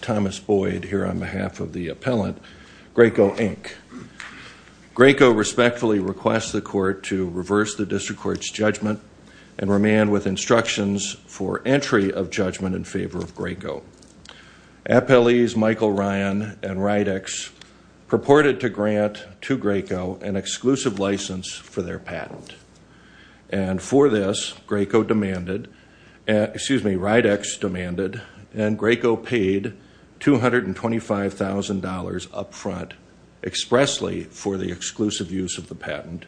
Thomas Boyd, here on behalf of the appellant, Graco, Inc. Graco respectfully requests the Court to reverse the District Court's judgment and remand with instructions for entry of judgment in favor of Graco. Appellees Michael Ryan and Rydex purported to grant to Graco an exclusive license for their patent, and for this, Rydex demanded and Graco paid $225,000 upfront expressly for the exclusive use of the patent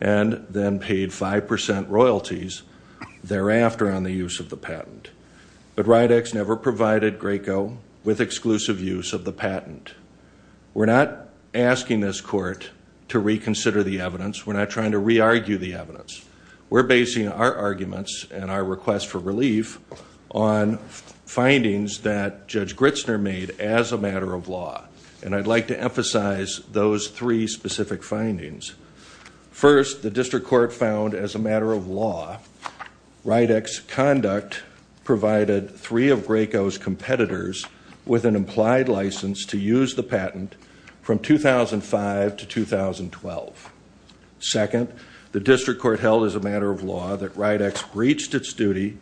and then paid 5% royalties thereafter on the use of the patent. But Rydex never provided Graco with exclusive use of the patent. We're not asking this Court to reconsider the evidence. We're not trying to re-argue the evidence. We're basing our arguments and our request for relief on findings that Judge Gritzner made as a matter of law, and I'd like to emphasize those three specific findings. First, the District Court found as a matter of law, Rydex's conduct provided three of Graco's competitors with an implied license to use the patent from 2005 to 2012. Second, the District Court held as a matter of law that Rydex breached its duty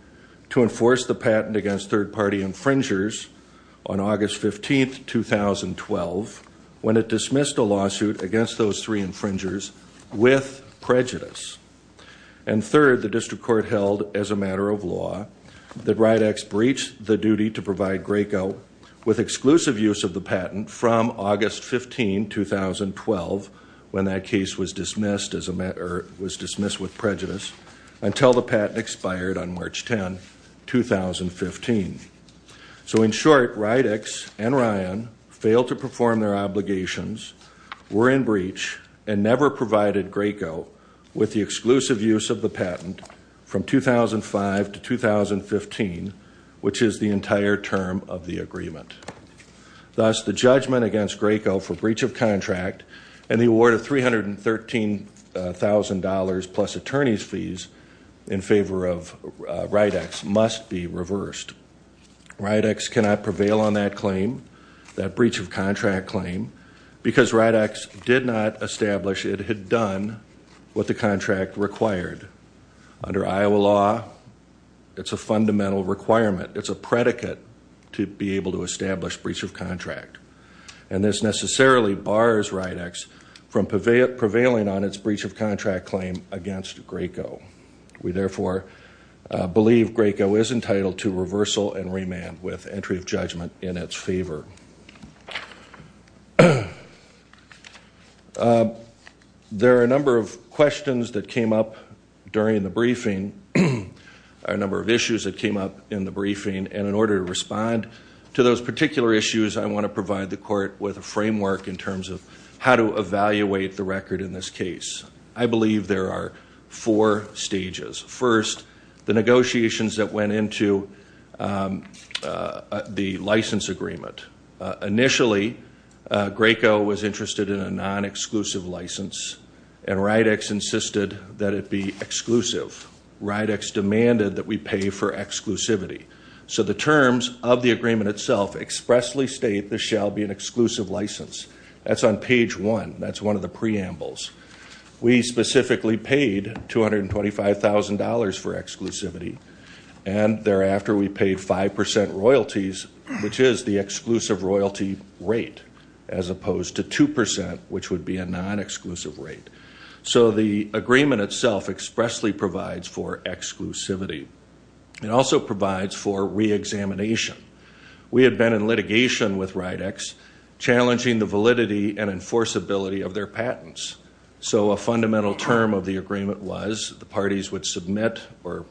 to enforce the patent against third-party infringers on August 15, 2012, when it dismissed a lawsuit against those three infringers with prejudice. And third, the District Court held as a matter of law that Rydex breached the duty to provide Graco with exclusive use of the patent from August 15, 2012, when that case was dismissed with prejudice, until the patent expired on March 10, 2015. So in short, Rydex and Ryan failed to perform their obligations, were in breach, and never provided Graco with the exclusive use of the patent from 2005 to 2015, which is the entire term of the agreement. Thus, the judgment against Graco for breach of contract and the award of $313,000 plus attorney's fees in favor of Rydex must be reversed. Rydex cannot prevail on that claim, that breach of contract claim, because Rydex did not establish it had done what the contract required. Under Iowa law, it's a fundamental requirement. It's a predicate to be able to establish breach of contract. And this necessarily bars Rydex from prevailing on its breach of contract claim against Graco. We therefore believe Graco is entitled to reversal and remand with entry of judgment in its favor. There are a number of questions that came up during the briefing, a number of issues that came up in the briefing, and in order to respond to those particular issues, I want to provide the court with a framework in terms of how to evaluate the record in this case. I believe there are four stages. First, the negotiations that went into the license agreement. Initially, Graco was interested in a non-exclusive license, and Rydex insisted that it be exclusive. Rydex demanded that we pay for exclusivity. So the terms of the agreement itself expressly state this shall be an exclusive license. That's on page one. That's one of the preambles. We specifically paid $225,000 for exclusivity, and thereafter we paid 5% royalties, which is the exclusive royalty rate, as opposed to 2%, which would be a non-exclusive rate. So the agreement itself expressly provides for exclusivity. It also provides for reexamination. We had been in litigation with Rydex challenging the validity and enforceability of their patents. So a fundamental term of the agreement was the parties would submit or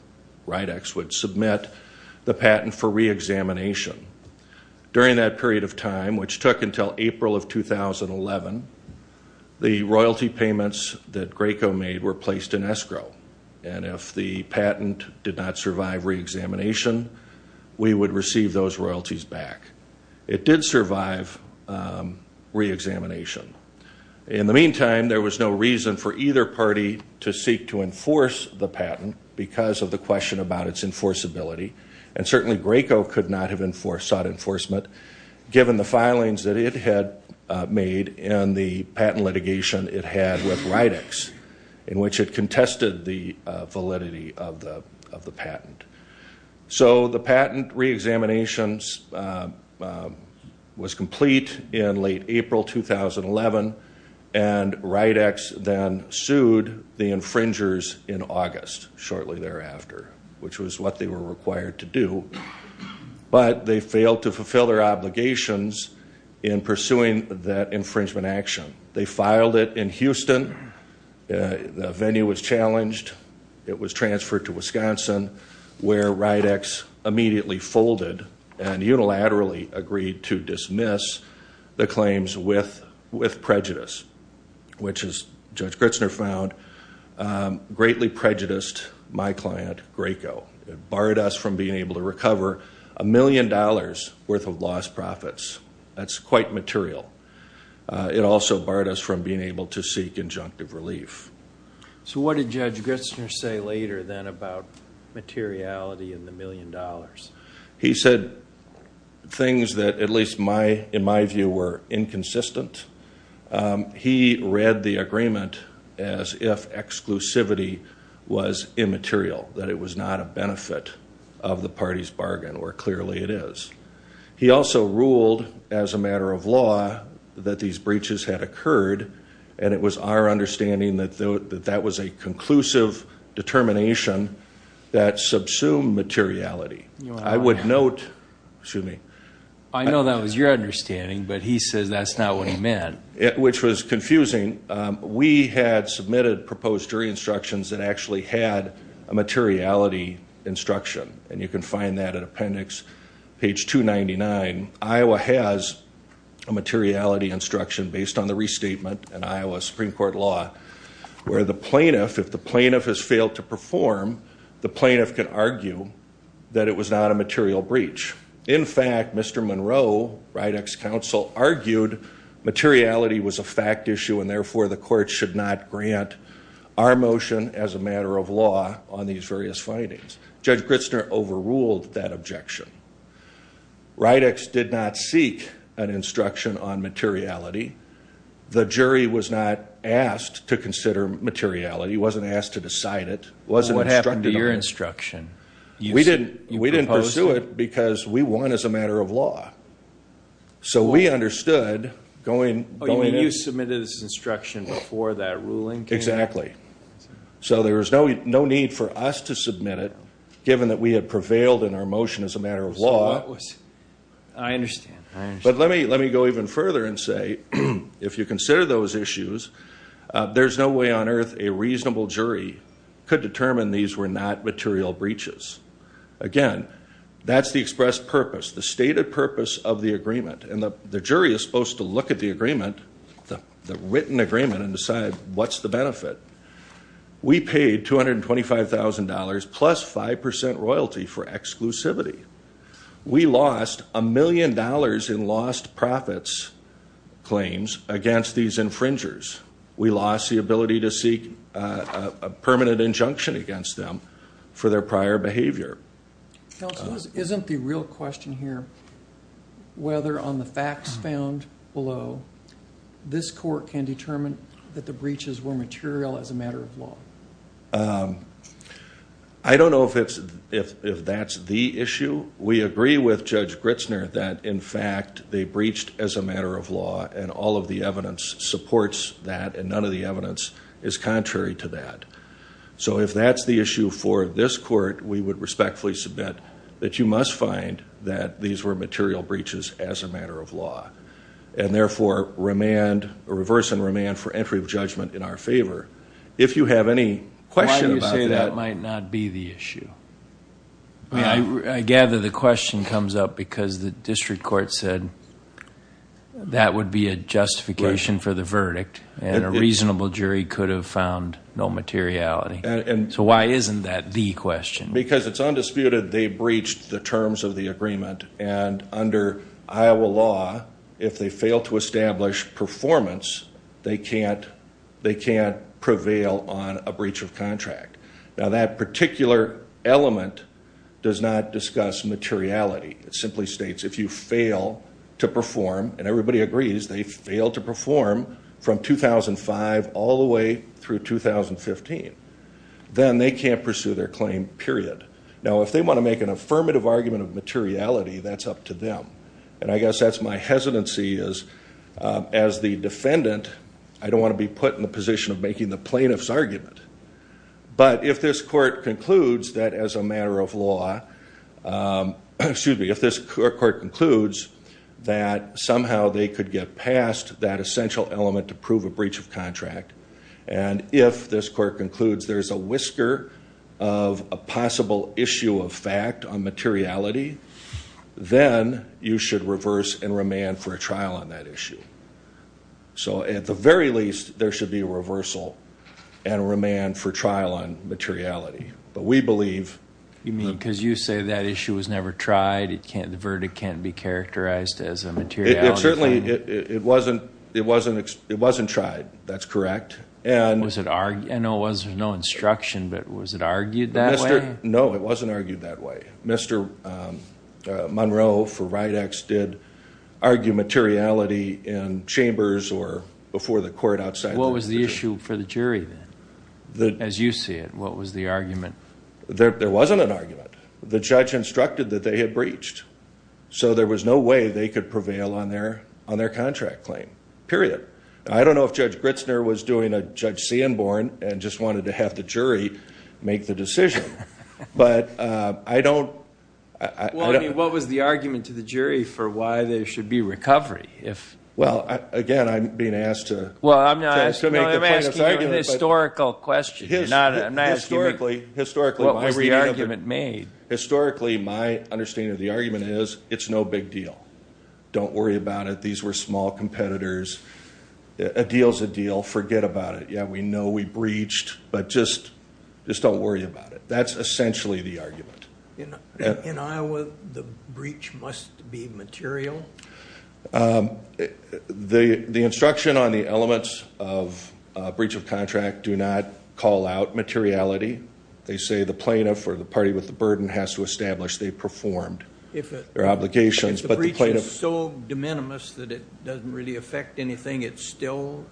Rydex would submit the patent for reexamination. During that period of time, which took until April of 2011, the royalty payments that Graco made were placed in escrow, and if the patent did not survive reexamination, we would receive those royalties back. It did survive reexamination. In the meantime, there was no reason for either party to seek to enforce the patent because of the question about its enforceability, and certainly Graco could not have sought enforcement given the filings that it had made in the patent litigation it had with Rydex, in which it contested the validity of the patent. So the patent reexaminations was complete in late April 2011, and Rydex then sued the infringers in August, shortly thereafter, which was what they were required to do, but they failed to fulfill their obligations in pursuing that infringement action. They filed it in Houston. The venue was challenged. It was transferred to Wisconsin, where Rydex immediately folded and unilaterally agreed to dismiss the claims with prejudice, which, as Judge Gritzner found, greatly prejudiced my client, Graco. It barred us from being able to recover a million dollars' worth of lost profits. That's quite material. It also barred us from being able to seek injunctive relief. So what did Judge Gritzner say later, then, about materiality and the million dollars? He said things that, at least in my view, were inconsistent. He read the agreement as if exclusivity was immaterial, that it was not a benefit of the party's bargain, or clearly it is. He also ruled, as a matter of law, that these breaches had occurred, and it was our understanding that that was a conclusive determination that subsumed materiality. I would note, excuse me. I know that was your understanding, but he says that's not what he meant. Which was confusing. We had submitted proposed jury instructions that actually had a materiality instruction, and you can find that in appendix page 299. Iowa has a materiality instruction based on the restatement in Iowa Supreme Court law, where the plaintiff, if the plaintiff has failed to perform, the plaintiff can argue that it was not a material breach. In fact, Mr. Monroe, RIDEX counsel, argued materiality was a fact issue, and therefore the court should not grant our motion as a matter of law on these various findings. Judge Gritzner overruled that objection. RIDEX did not seek an instruction on materiality. The jury was not asked to consider materiality. It wasn't asked to decide it. What happened to your instruction? We didn't pursue it because we won as a matter of law. So we understood going in. Oh, you mean you submitted this instruction before that ruling came out? Exactly. So there was no need for us to submit it, given that we had prevailed in our motion as a matter of law. I understand. But let me go even further and say, if you consider those issues, there's no way on earth a reasonable jury could determine these were not material breaches. Again, that's the expressed purpose, the stated purpose of the agreement. And the jury is supposed to look at the agreement, the written agreement, and decide what's the benefit. We paid $225,000 plus 5% royalty for exclusivity. We lost $1 million in lost profits claims against these infringers. We lost the ability to seek a permanent injunction against them for their prior behavior. Counsel, isn't the real question here whether on the facts found below, this court can determine that the breaches were material as a matter of law? I don't know if that's the issue. We agree with Judge Gritzner that, in fact, they breached as a matter of law, and all of the evidence supports that, and none of the evidence is contrary to that. So if that's the issue for this court, we would respectfully submit that you must find that these were material breaches as a matter of law, and therefore reverse and remand for entry of judgment in our favor. If you have any question about that. Why do you say that might not be the issue? I gather the question comes up because the district court said that would be a justification for the verdict, and a reasonable jury could have found no materiality. So why isn't that the question? Because it's undisputed they breached the terms of the agreement, and under Iowa law, if they fail to establish performance, they can't prevail on a breach of contract. Now, that particular element does not discuss materiality. It simply states if you fail to perform, and everybody agrees they failed to perform from 2005 all the way through 2015, then they can't pursue their claim, period. Now, if they want to make an affirmative argument of materiality, that's up to them, and I guess that's my hesitancy is as the defendant, I don't want to be put in the position of making the plaintiff's argument. But if this court concludes that as a matter of law, excuse me, if this court concludes that somehow they could get past that essential element to prove a breach of contract, and if this court concludes there's a whisker of a possible issue of fact on materiality, then you should reverse and remand for a trial on that issue. So at the very least, there should be a reversal and remand for trial on materiality. But we believe the... You mean because you say that issue was never tried, the verdict can't be characterized as a materiality... It certainly, it wasn't tried, that's correct. I know it was, there's no instruction, but was it argued that way? No, it wasn't argued that way. Mr. Monroe for Rydex did argue materiality in chambers or before the court outside... What was the issue for the jury then? As you see it, what was the argument? There wasn't an argument. The judge instructed that they had breached. So there was no way they could prevail on their contract claim, period. I don't know if Judge Gritzner was doing a Judge Sanborn and just wanted to have the jury make the decision. But I don't... What was the argument to the jury for why there should be recovery? Well, again, I'm being asked to... Well, I'm not asking you an historical question. I'm not asking you what was the argument made. Historically, my understanding of the argument is it's no big deal. Don't worry about it. These were small competitors. A deal's a deal. Forget about it. Yeah, we know we breached, but just don't worry about it. That's essentially the argument. In Iowa, the breach must be material? The instruction on the elements of breach of contract do not call out materiality. They say the plaintiff or the party with the burden has to establish they performed their obligations. If the breach is so de minimis that it doesn't really affect anything, it's still...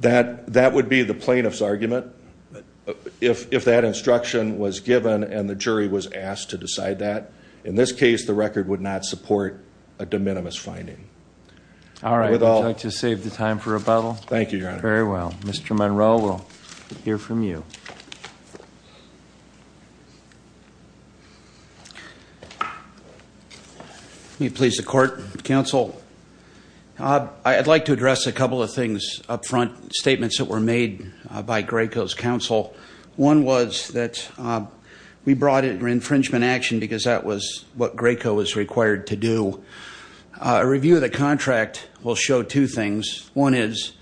That would be the plaintiff's argument if that instruction was given and the jury was asked to decide that. In this case, the record would not support a de minimis finding. All right. Would you like to save the time for rebuttal? Thank you, Your Honor. Very well. Mr. Monroe, we'll hear from you. Let me please the court, counsel. I'd like to address a couple of things up front, statements that were made by Graco's counsel. One was that we brought in infringement action because that was what Graco was required to do. A review of the contract will show two things. One is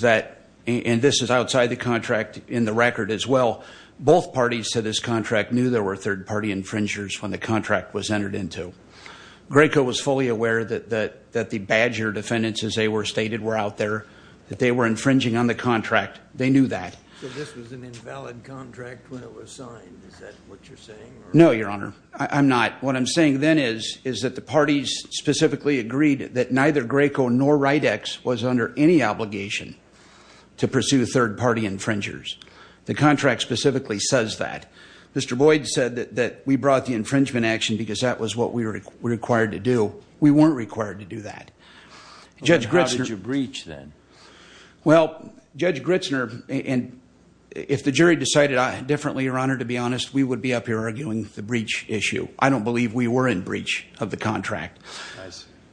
that, and this is outside the contract in the record as well, both parties to this contract knew there were third-party infringers when the contract was entered into. Graco was fully aware that the Badger defendants, as they were stated, were out there, that they were infringing on the contract. They knew that. So this was an invalid contract when it was signed. Is that what you're saying? No, Your Honor. I'm not. What I'm saying then is that the parties specifically agreed that neither Graco nor Ridex was under any obligation to pursue third-party infringers. The contract specifically says that. Mr. Boyd said that we brought the infringement action because that was what we were required to do. We weren't required to do that. How did you breach then? Well, Judge Gritzner, if the jury decided differently, Your Honor, to be honest, we would be up here arguing the breach issue. I don't believe we were in breach of the contract.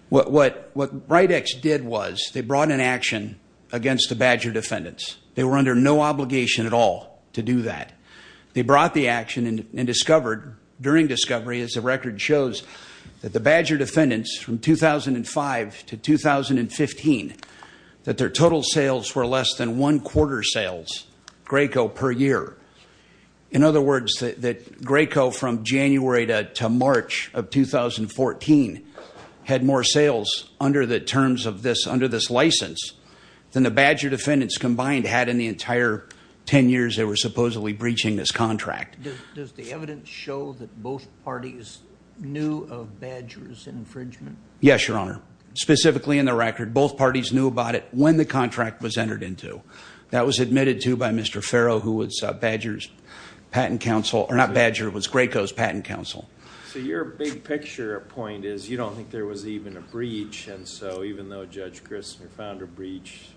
What Ridex did was they brought an action against the Badger defendants. They were under no obligation at all to do that. They brought the action and discovered during discovery, as the record shows, that the Badger defendants from 2005 to 2015, that their total sales were less than one quarter sales, Graco per year. In other words, that Graco from January to March of 2014 had more sales under the terms of this, under this license than the Badger defendants combined had in the entire 10 years they were supposedly breaching this contract. Does the evidence show that both parties knew of Badger's infringement? Yes, Your Honor. Specifically in the record, both parties knew about it when the contract was entered into. That was admitted to by Mr. Farrow, who was Badger's patent counsel, or not Badger, it was Graco's patent counsel. So your big picture point is you don't think there was even a breach, and so even though Judge Gritzner found a breach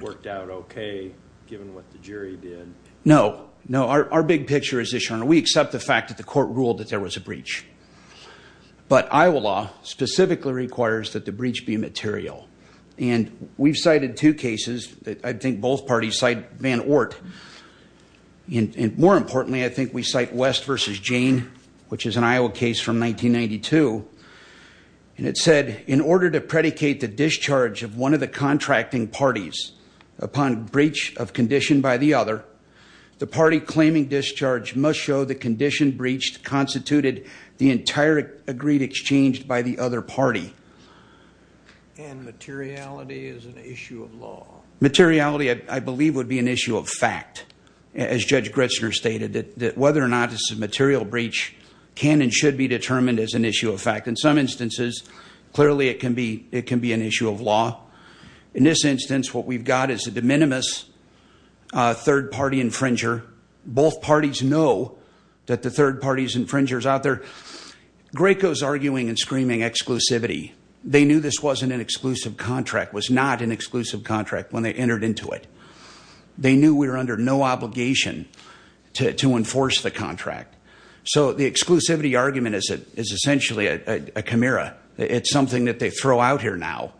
worked out okay, given what the jury did. No, no. Our big picture is this, Your Honor. We accept the fact that the court ruled that there was a breach. But Iowa law specifically requires that the breach be material. And we've cited two cases that I think both parties cite Van Ort. And more importantly, I think we cite West v. Jane, which is an Iowa case from 1992. And it said, in order to predicate the discharge of one of the contracting parties upon breach of condition by the other, the party claiming discharge must show the condition breached constituted the entire agreed exchange by the other party. And materiality is an issue of law. Materiality, I believe, would be an issue of fact, as Judge Gritzner stated, that whether or not it's a material breach can and should be determined as an issue of fact. In some instances, clearly it can be an issue of law. In this instance, what we've got is a de minimis third-party infringer. Both parties know that the third-party infringer is out there. Graco is arguing and screaming exclusivity. They knew this wasn't an exclusive contract, was not an exclusive contract when they entered into it. They knew we were under no obligation to enforce the contract. So the exclusivity argument is essentially a chimera. It's something that they throw out here now.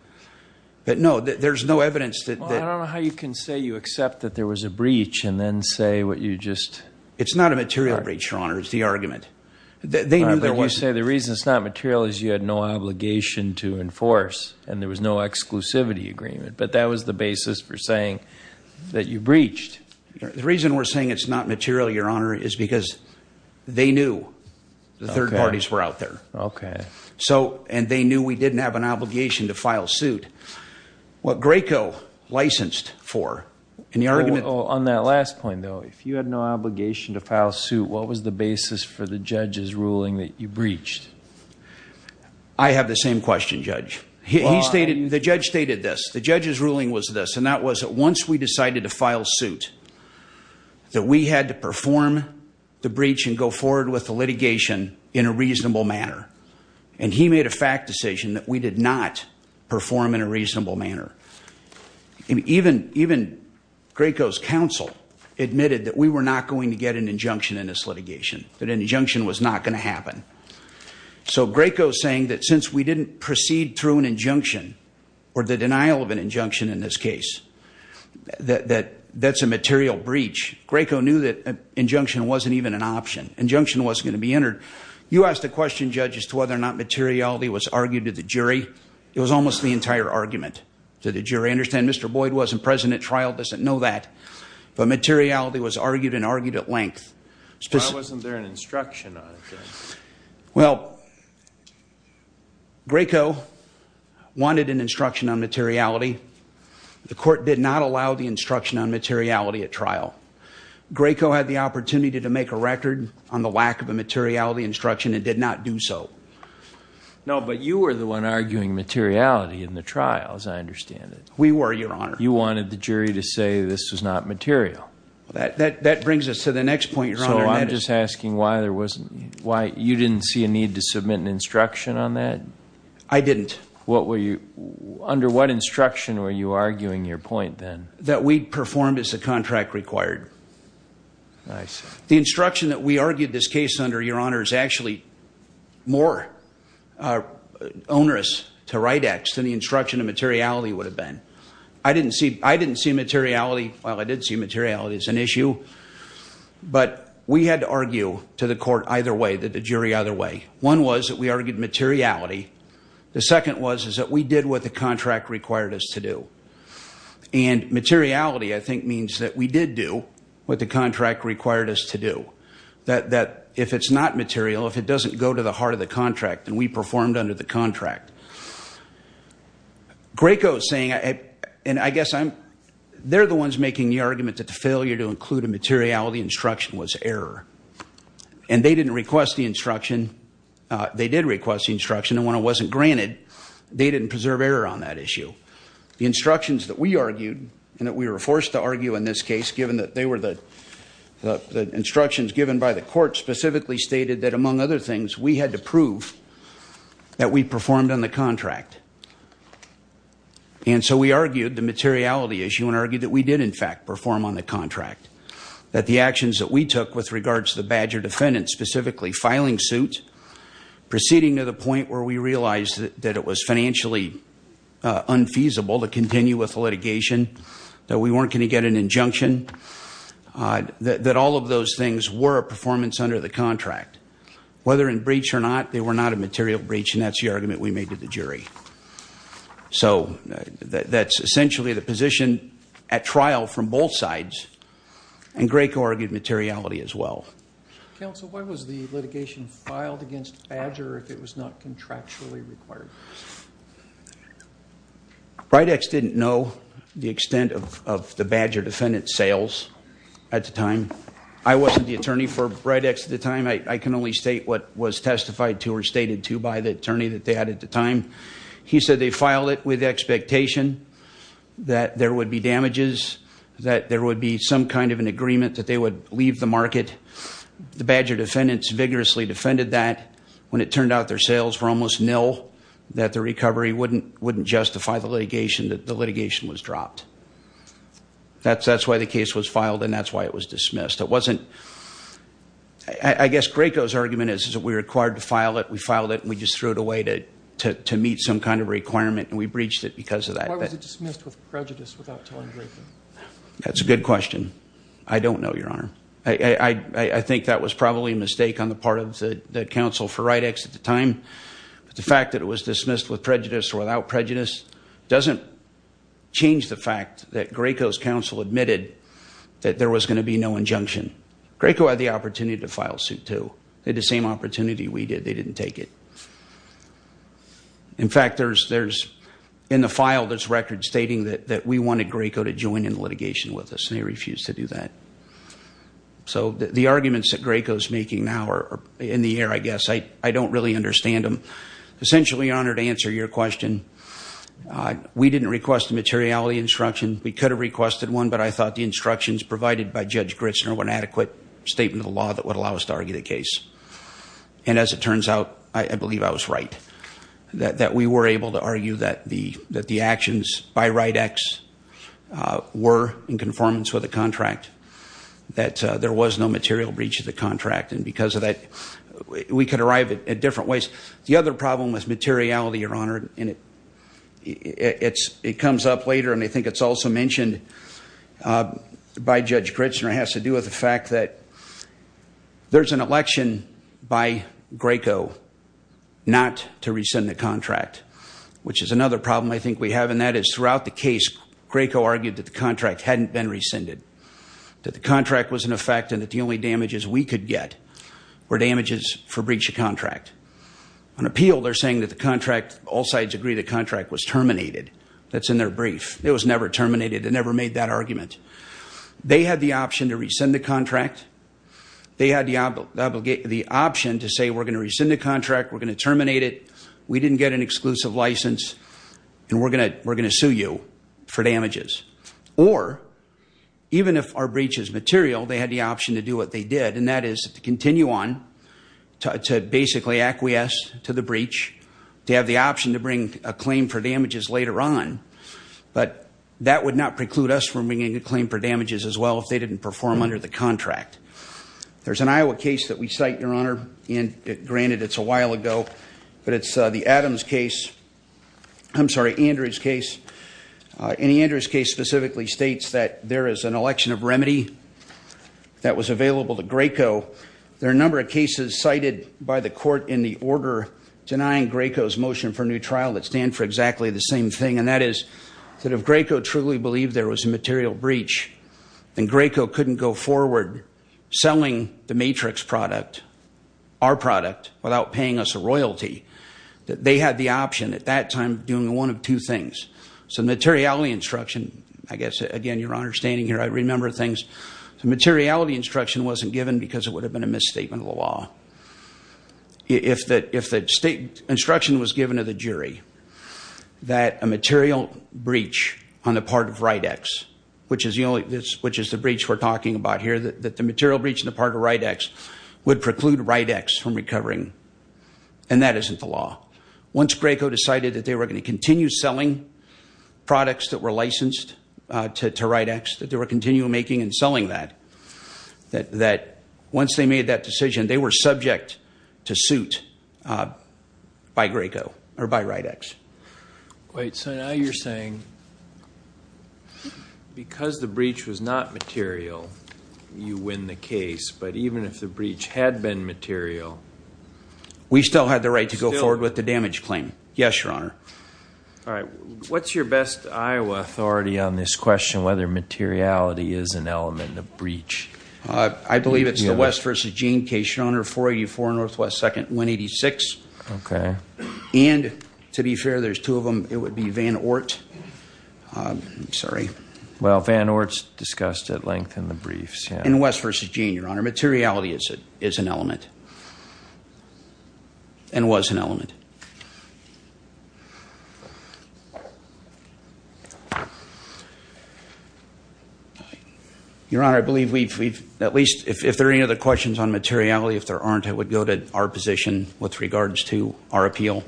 But, no, there's no evidence that- Well, I don't know how you can say you accept that there was a breach and then say what you just- It's not a material breach, Your Honor. It's the argument. They knew there was- But you say the reason it's not material is you had no obligation to enforce and there was no exclusivity agreement. But that was the basis for saying that you breached. The reason we're saying it's not material, Your Honor, is because they knew the third parties were out there. Okay. And they knew we didn't have an obligation to file suit. What Graco licensed for in the argument- On that last point, though, if you had no obligation to file suit, what was the basis for the judge's ruling that you breached? I have the same question, Judge. The judge stated this. The judge's ruling was this, and that was that once we decided to file suit, that we had to perform the breach and go forward with the litigation in a reasonable manner. And he made a fact decision that we did not perform in a reasonable manner. Even Graco's counsel admitted that we were not going to get an injunction in this litigation, that an injunction was not going to happen. So Graco's saying that since we didn't proceed through an injunction or the denial of an injunction in this case, that that's a material breach, Graco knew that an injunction wasn't even an option. Injunction wasn't going to be entered. You asked a question, Judge, as to whether or not materiality was argued to the jury. It was almost the entire argument to the jury. Understand, Mr. Boyd wasn't present at trial, doesn't know that. But materiality was argued and argued at length. Why wasn't there an instruction on it, Judge? Well, Graco wanted an instruction on materiality. The court did not allow the instruction on materiality at trial. Graco had the opportunity to make a record on the lack of a materiality instruction and did not do so. No, but you were the one arguing materiality in the trial, as I understand it. We were, Your Honor. You wanted the jury to say this was not material. That brings us to the next point, Your Honor. So I'm just asking why you didn't see a need to submit an instruction on that? I didn't. Under what instruction were you arguing your point then? That we performed as the contract required. I see. The instruction that we argued this case under, Your Honor, is actually more onerous to write X than the instruction on materiality would have been. I didn't see materiality. Well, I did see materiality as an issue. But we had to argue to the court either way, the jury either way. One was that we argued materiality. The second was that we did what the contract required us to do. And materiality, I think, means that we did do what the contract required us to do. That if it's not material, if it doesn't go to the heart of the contract, then we performed under the contract. Graco is saying, and I guess they're the ones making the argument that the failure to include a materiality instruction was error. And they didn't request the instruction. They did request the instruction. And when it wasn't granted, they didn't preserve error on that issue. The instructions that we argued and that we were forced to argue in this case, given that they were the instructions given by the court, specifically stated that, among other things, we had to prove that we performed on the contract. And so we argued the materiality issue and argued that we did, in fact, perform on the contract, that the actions that we took with regards to the badger defendant, specifically filing suit, proceeding to the point where we realized that it was financially unfeasible to continue with litigation, that we weren't going to get an injunction, that all of those things were a performance under the contract. Whether in breach or not, they were not a material breach, and that's the argument we made to the jury. So that's essentially the position at trial from both sides, and Grayco argued materiality as well. Counsel, why was the litigation filed against badger if it was not contractually required? Bridex didn't know the extent of the badger defendant's sales at the time. I wasn't the attorney for Bridex at the time. I can only state what was testified to or stated to by the attorney that they had at the time. He said they filed it with the expectation that there would be damages, that there would be some kind of an agreement that they would leave the market. The badger defendants vigorously defended that. When it turned out their sales were almost nil, that the recovery wouldn't justify the litigation, that the litigation was dropped. That's why the case was filed, and that's why it was dismissed. I guess Grayco's argument is that we were required to file it. We filed it, and we just threw it away to meet some kind of requirement, and we breached it because of that. Why was it dismissed with prejudice without telling Grayco? That's a good question. I don't know, Your Honor. I think that was probably a mistake on the part of the counsel for Bridex at the time. The fact that it was dismissed with prejudice or without prejudice doesn't change the fact that Grayco's counsel admitted that there was going to be no injunction. Grayco had the opportunity to file suit, too. They had the same opportunity we did. They didn't take it. In fact, in the file, there's records stating that we wanted Grayco to join in litigation with us, and they refused to do that. So the arguments that Grayco's making now are in the air, I guess. I don't really understand them. Essentially, Your Honor, to answer your question, we didn't request a materiality instruction. We could have requested one, but I thought the instructions provided by Judge Gritzner were an adequate statement of the law that would allow us to argue the case. And as it turns out, I believe I was right, that we were able to argue that the actions by Bridex were in conformance with the contract, that there was no material breach of the contract. And because of that, we could arrive at different ways. The other problem was materiality, Your Honor. And it comes up later, and I think it's also mentioned by Judge Gritzner. It has to do with the fact that there's an election by Grayco not to rescind the contract, which is another problem I think we have. And that is throughout the case, Grayco argued that the contract hadn't been rescinded, that the contract was in effect, and that the only damages we could get were damages for breach of contract. On appeal, they're saying that the contract, all sides agree the contract was terminated. That's in their brief. It was never terminated. They never made that argument. They had the option to rescind the contract. They had the option to say, we're going to rescind the contract, we're going to terminate it, we didn't get an exclusive license, and we're going to sue you for damages. Or, even if our breach is material, they had the option to do what they did, and that is to continue on to basically acquiesce to the breach, to have the option to bring a claim for damages later on. But that would not preclude us from bringing a claim for damages as well if they didn't perform under the contract. There's an Iowa case that we cite, Your Honor, and granted it's a while ago, but it's the Adams case. I'm sorry, Andrews case. And Andrews case specifically states that there is an election of remedy that was available to Graco. There are a number of cases cited by the court in the order denying Graco's motion for a new trial that stand for exactly the same thing, and that is that if Graco truly believed there was a material breach, then Graco couldn't go forward selling the Matrix product, our product, without paying us a royalty. They had the option at that time of doing one of two things. So materiality instruction, I guess, again, Your Honor, standing here, I remember things. Materiality instruction wasn't given because it would have been a misstatement of the law. If the instruction was given to the jury that a material breach on the part of Rite-X, which is the breach we're talking about here, that the material breach on the part of Rite-X would preclude Rite-X from recovering, and that isn't the law. Once Graco decided that they were going to continue selling products that were licensed to Rite-X, that they were continuing making and selling that, that once they made that decision, they were subject to suit by Graco or by Rite-X. Wait, so now you're saying because the breach was not material, you win the case. But even if the breach had been material, we still had the right to go forward with the damage claim. Yes, Your Honor. All right. What's your best Iowa authority on this question, whether materiality is an element of breach? I believe it's the West v. Gene case, Your Honor, 484 Northwest 2nd, 186. Okay. And to be fair, there's two of them. It would be Van Oort. I'm sorry. Well, Van Oort's discussed at length in the briefs. In West v. Gene, Your Honor, materiality is an element and was an element. Your Honor, I believe we've at least, if there are any other questions on materiality, if there aren't, I would go to our position with regards to our appeal.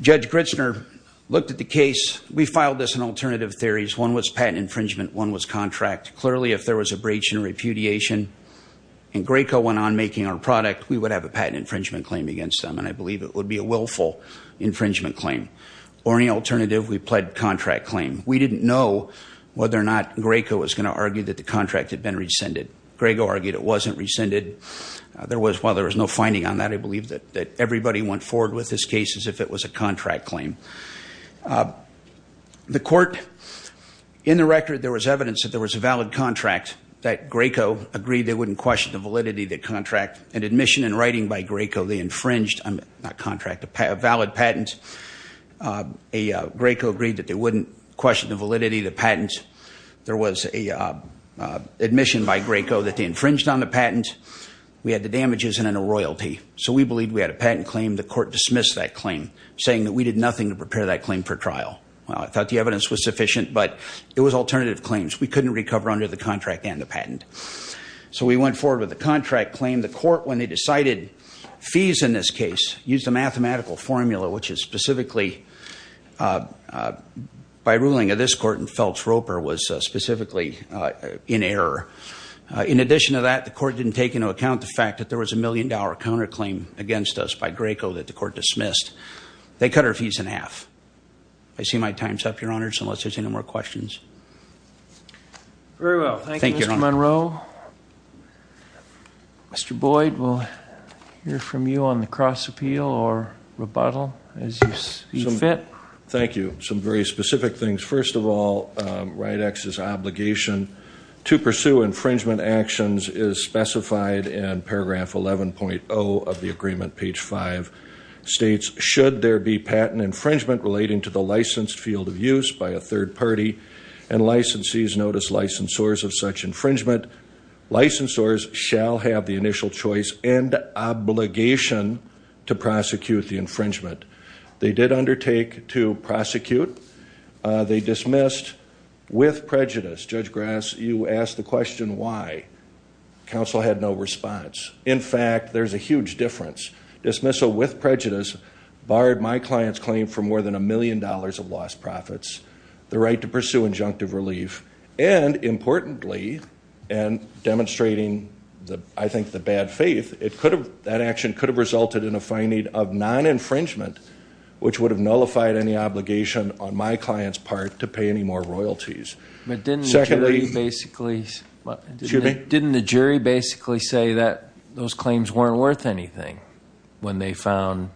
Judge Gritzner looked at the case. We filed this in alternative theories. One was patent infringement. One was contract. Clearly, if there was a breach and repudiation and Graco went on making our product, we would have a patent infringement claim against them, and I believe it would be a willful infringement claim. Or any alternative, we pled contract claim. We didn't know whether or not Graco was going to argue that the contract had been rescinded. Graco argued it wasn't rescinded. While there was no finding on that, I believe that everybody went forward with this case as if it was a contract claim. The court, in the record, there was evidence that there was a valid contract, that Graco agreed they wouldn't question the validity of the contract. An admission in writing by Graco, they infringed, not contract, a valid patent. Graco agreed that they wouldn't question the validity of the patent. There was an admission by Graco that they infringed on the patent. We had the damages and then a royalty. So we believed we had a patent claim. The court dismissed that claim, saying that we did nothing to prepare that claim for trial. I thought the evidence was sufficient, but it was alternative claims. We couldn't recover under the contract and the patent. So we went forward with the contract claim. The court, when they decided fees in this case, used a mathematical formula, which is specifically, by ruling of this court in Feltz-Roper, was specifically in error. In addition to that, the court didn't take into account the fact that there was a million-dollar counterclaim against us by Graco that the court dismissed. They cut our fees in half. I see my time's up, Your Honors, unless there's any more questions. Very well. Thank you, Mr. Monroe. Mr. Boyd, we'll hear from you on the cross-appeal or rebuttal as you fit. Thank you. Some very specific things. First of all, RIDEX's obligation to pursue infringement actions is specified in paragraph 11.0 of the agreement, page 5. It states, should there be patent infringement relating to the licensed field of use by a third party, and licensees notice licensors of such infringement, licensors shall have the initial choice and obligation to prosecute the infringement. They did undertake to prosecute. They dismissed with prejudice. Judge Grass, you asked the question why. Counsel had no response. In fact, there's a huge difference. Dismissal with prejudice barred my client's claim for more than a million dollars of lost profits, the right to pursue injunctive relief, and importantly, and demonstrating, I think, the bad faith, that action could have resulted in a finding of non-infringement, which would have nullified any obligation on my client's part to pay any more royalties. But didn't the jury basically say that those claims weren't worth anything when they found...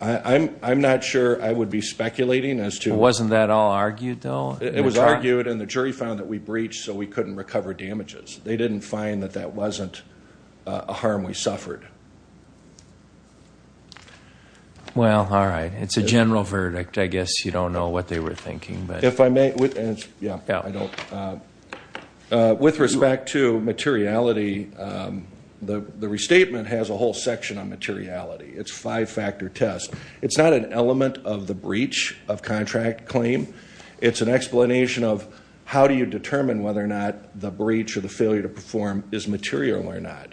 I'm not sure I would be speculating as to... Wasn't that all argued, though? It was argued, and the jury found that we breached, so we couldn't recover damages. They didn't find that that wasn't a harm we suffered. Well, all right. It's a general verdict. I guess you don't know what they were thinking, but... Yeah, I don't. With respect to materiality, the restatement has a whole section on materiality. It's a five-factor test. It's not an element of the breach of contract claim. It's an explanation of how do you determine whether or not the breach or the failure to perform is material or not.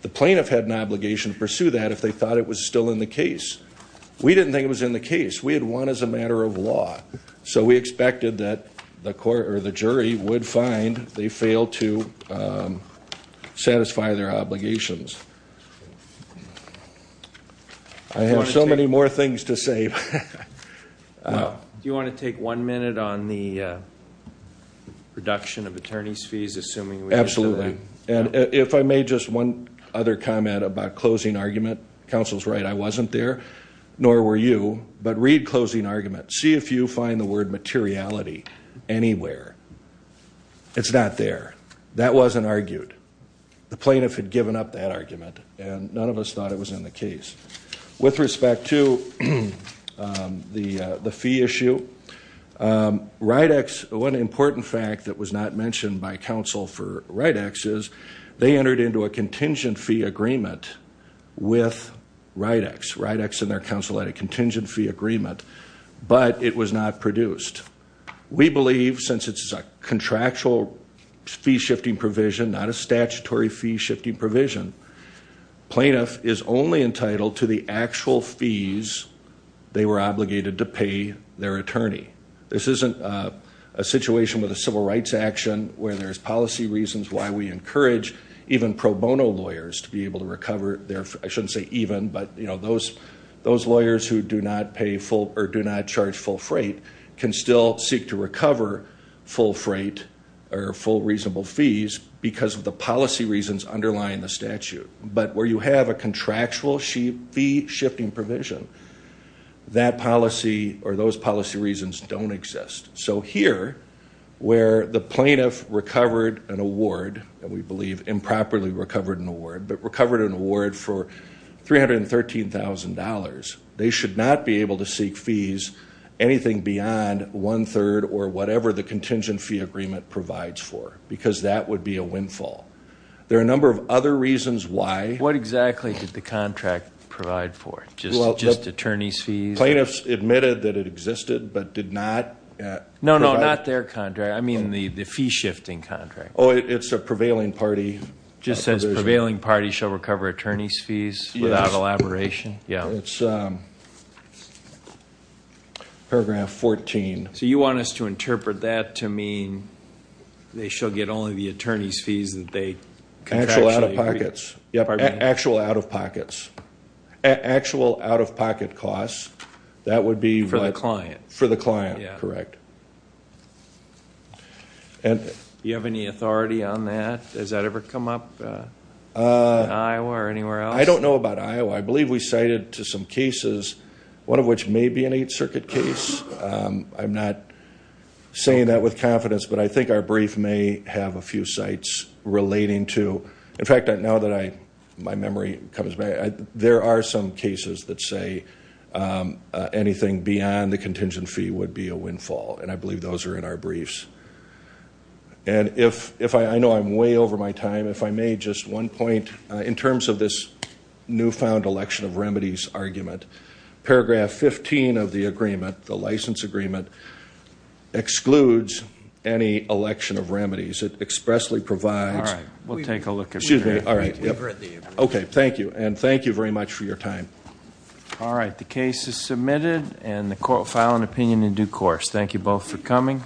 The plaintiff had an obligation to pursue that if they thought it was still in the case. We didn't think it was in the case. We had won as a matter of law. So we expected that the jury would find they failed to satisfy their obligations. I have so many more things to say. Do you want to take one minute on the reduction of attorney's fees, assuming we get to that? Absolutely. And if I may, just one other comment about closing argument. Counsel's right, I wasn't there, nor were you, but read closing argument. See if you find the word materiality anywhere. It's not there. That wasn't argued. The plaintiff had given up that argument, and none of us thought it was in the case. With respect to the fee issue, RIDEX, one important fact that was not mentioned by counsel for RIDEX is they entered into a contingent fee agreement with RIDEX. RIDEX and their counsel had a contingent fee agreement, but it was not produced. We believe, since it's a contractual fee-shifting provision, not a statutory fee-shifting provision, plaintiff is only entitled to the actual fees they were obligated to pay their attorney. This isn't a situation with a civil rights action where there's policy reasons why we encourage even pro bono lawyers to be able to recover their, I shouldn't say even, but those lawyers who do not pay full or do not charge full freight can still seek to recover full freight or full reasonable fees because of the policy reasons underlying the statute. But where you have a contractual fee-shifting provision, that policy or those policy reasons don't exist. So here, where the plaintiff recovered an award, and we believe improperly recovered an award, but recovered an award for $313,000, they should not be able to seek fees anything beyond one-third or whatever the contingent fee agreement provides for because that would be a windfall. There are a number of other reasons why. What exactly did the contract provide for? Just attorney's fees? Plaintiffs admitted that it existed but did not provide? No, no, not their contract. I mean the fee-shifting contract. Oh, it's a prevailing party. It just says prevailing party shall recover attorney's fees without elaboration? Yes. Yeah. It's paragraph 14. So you want us to interpret that to mean they shall get only the attorney's fees that they contractually agreed? Actual out-of-pockets. Yeah, actual out-of-pockets. Actual out-of-pocket costs. That would be what? For the client. For the client, correct. Yeah. Do you have any authority on that? Does that ever come up in Iowa or anywhere else? I don't know about Iowa. I believe we cited to some cases, one of which may be an Eighth Circuit case. I'm not saying that with confidence, but I think our brief may have a few sites relating to. In fact, now that my memory comes back, there are some cases that say anything beyond the contingent fee would be a windfall, and I believe those are in our briefs. And I know I'm way over my time. If I may, just one point. In terms of this newfound election of remedies argument, paragraph 15 of the agreement, the license agreement, excludes any election of remedies. It expressly provides. All right. We'll take a look at that. Okay. Thank you, and thank you very much for your time. All right. The case is submitted, and the court will file an opinion in due course. Thank you both for coming.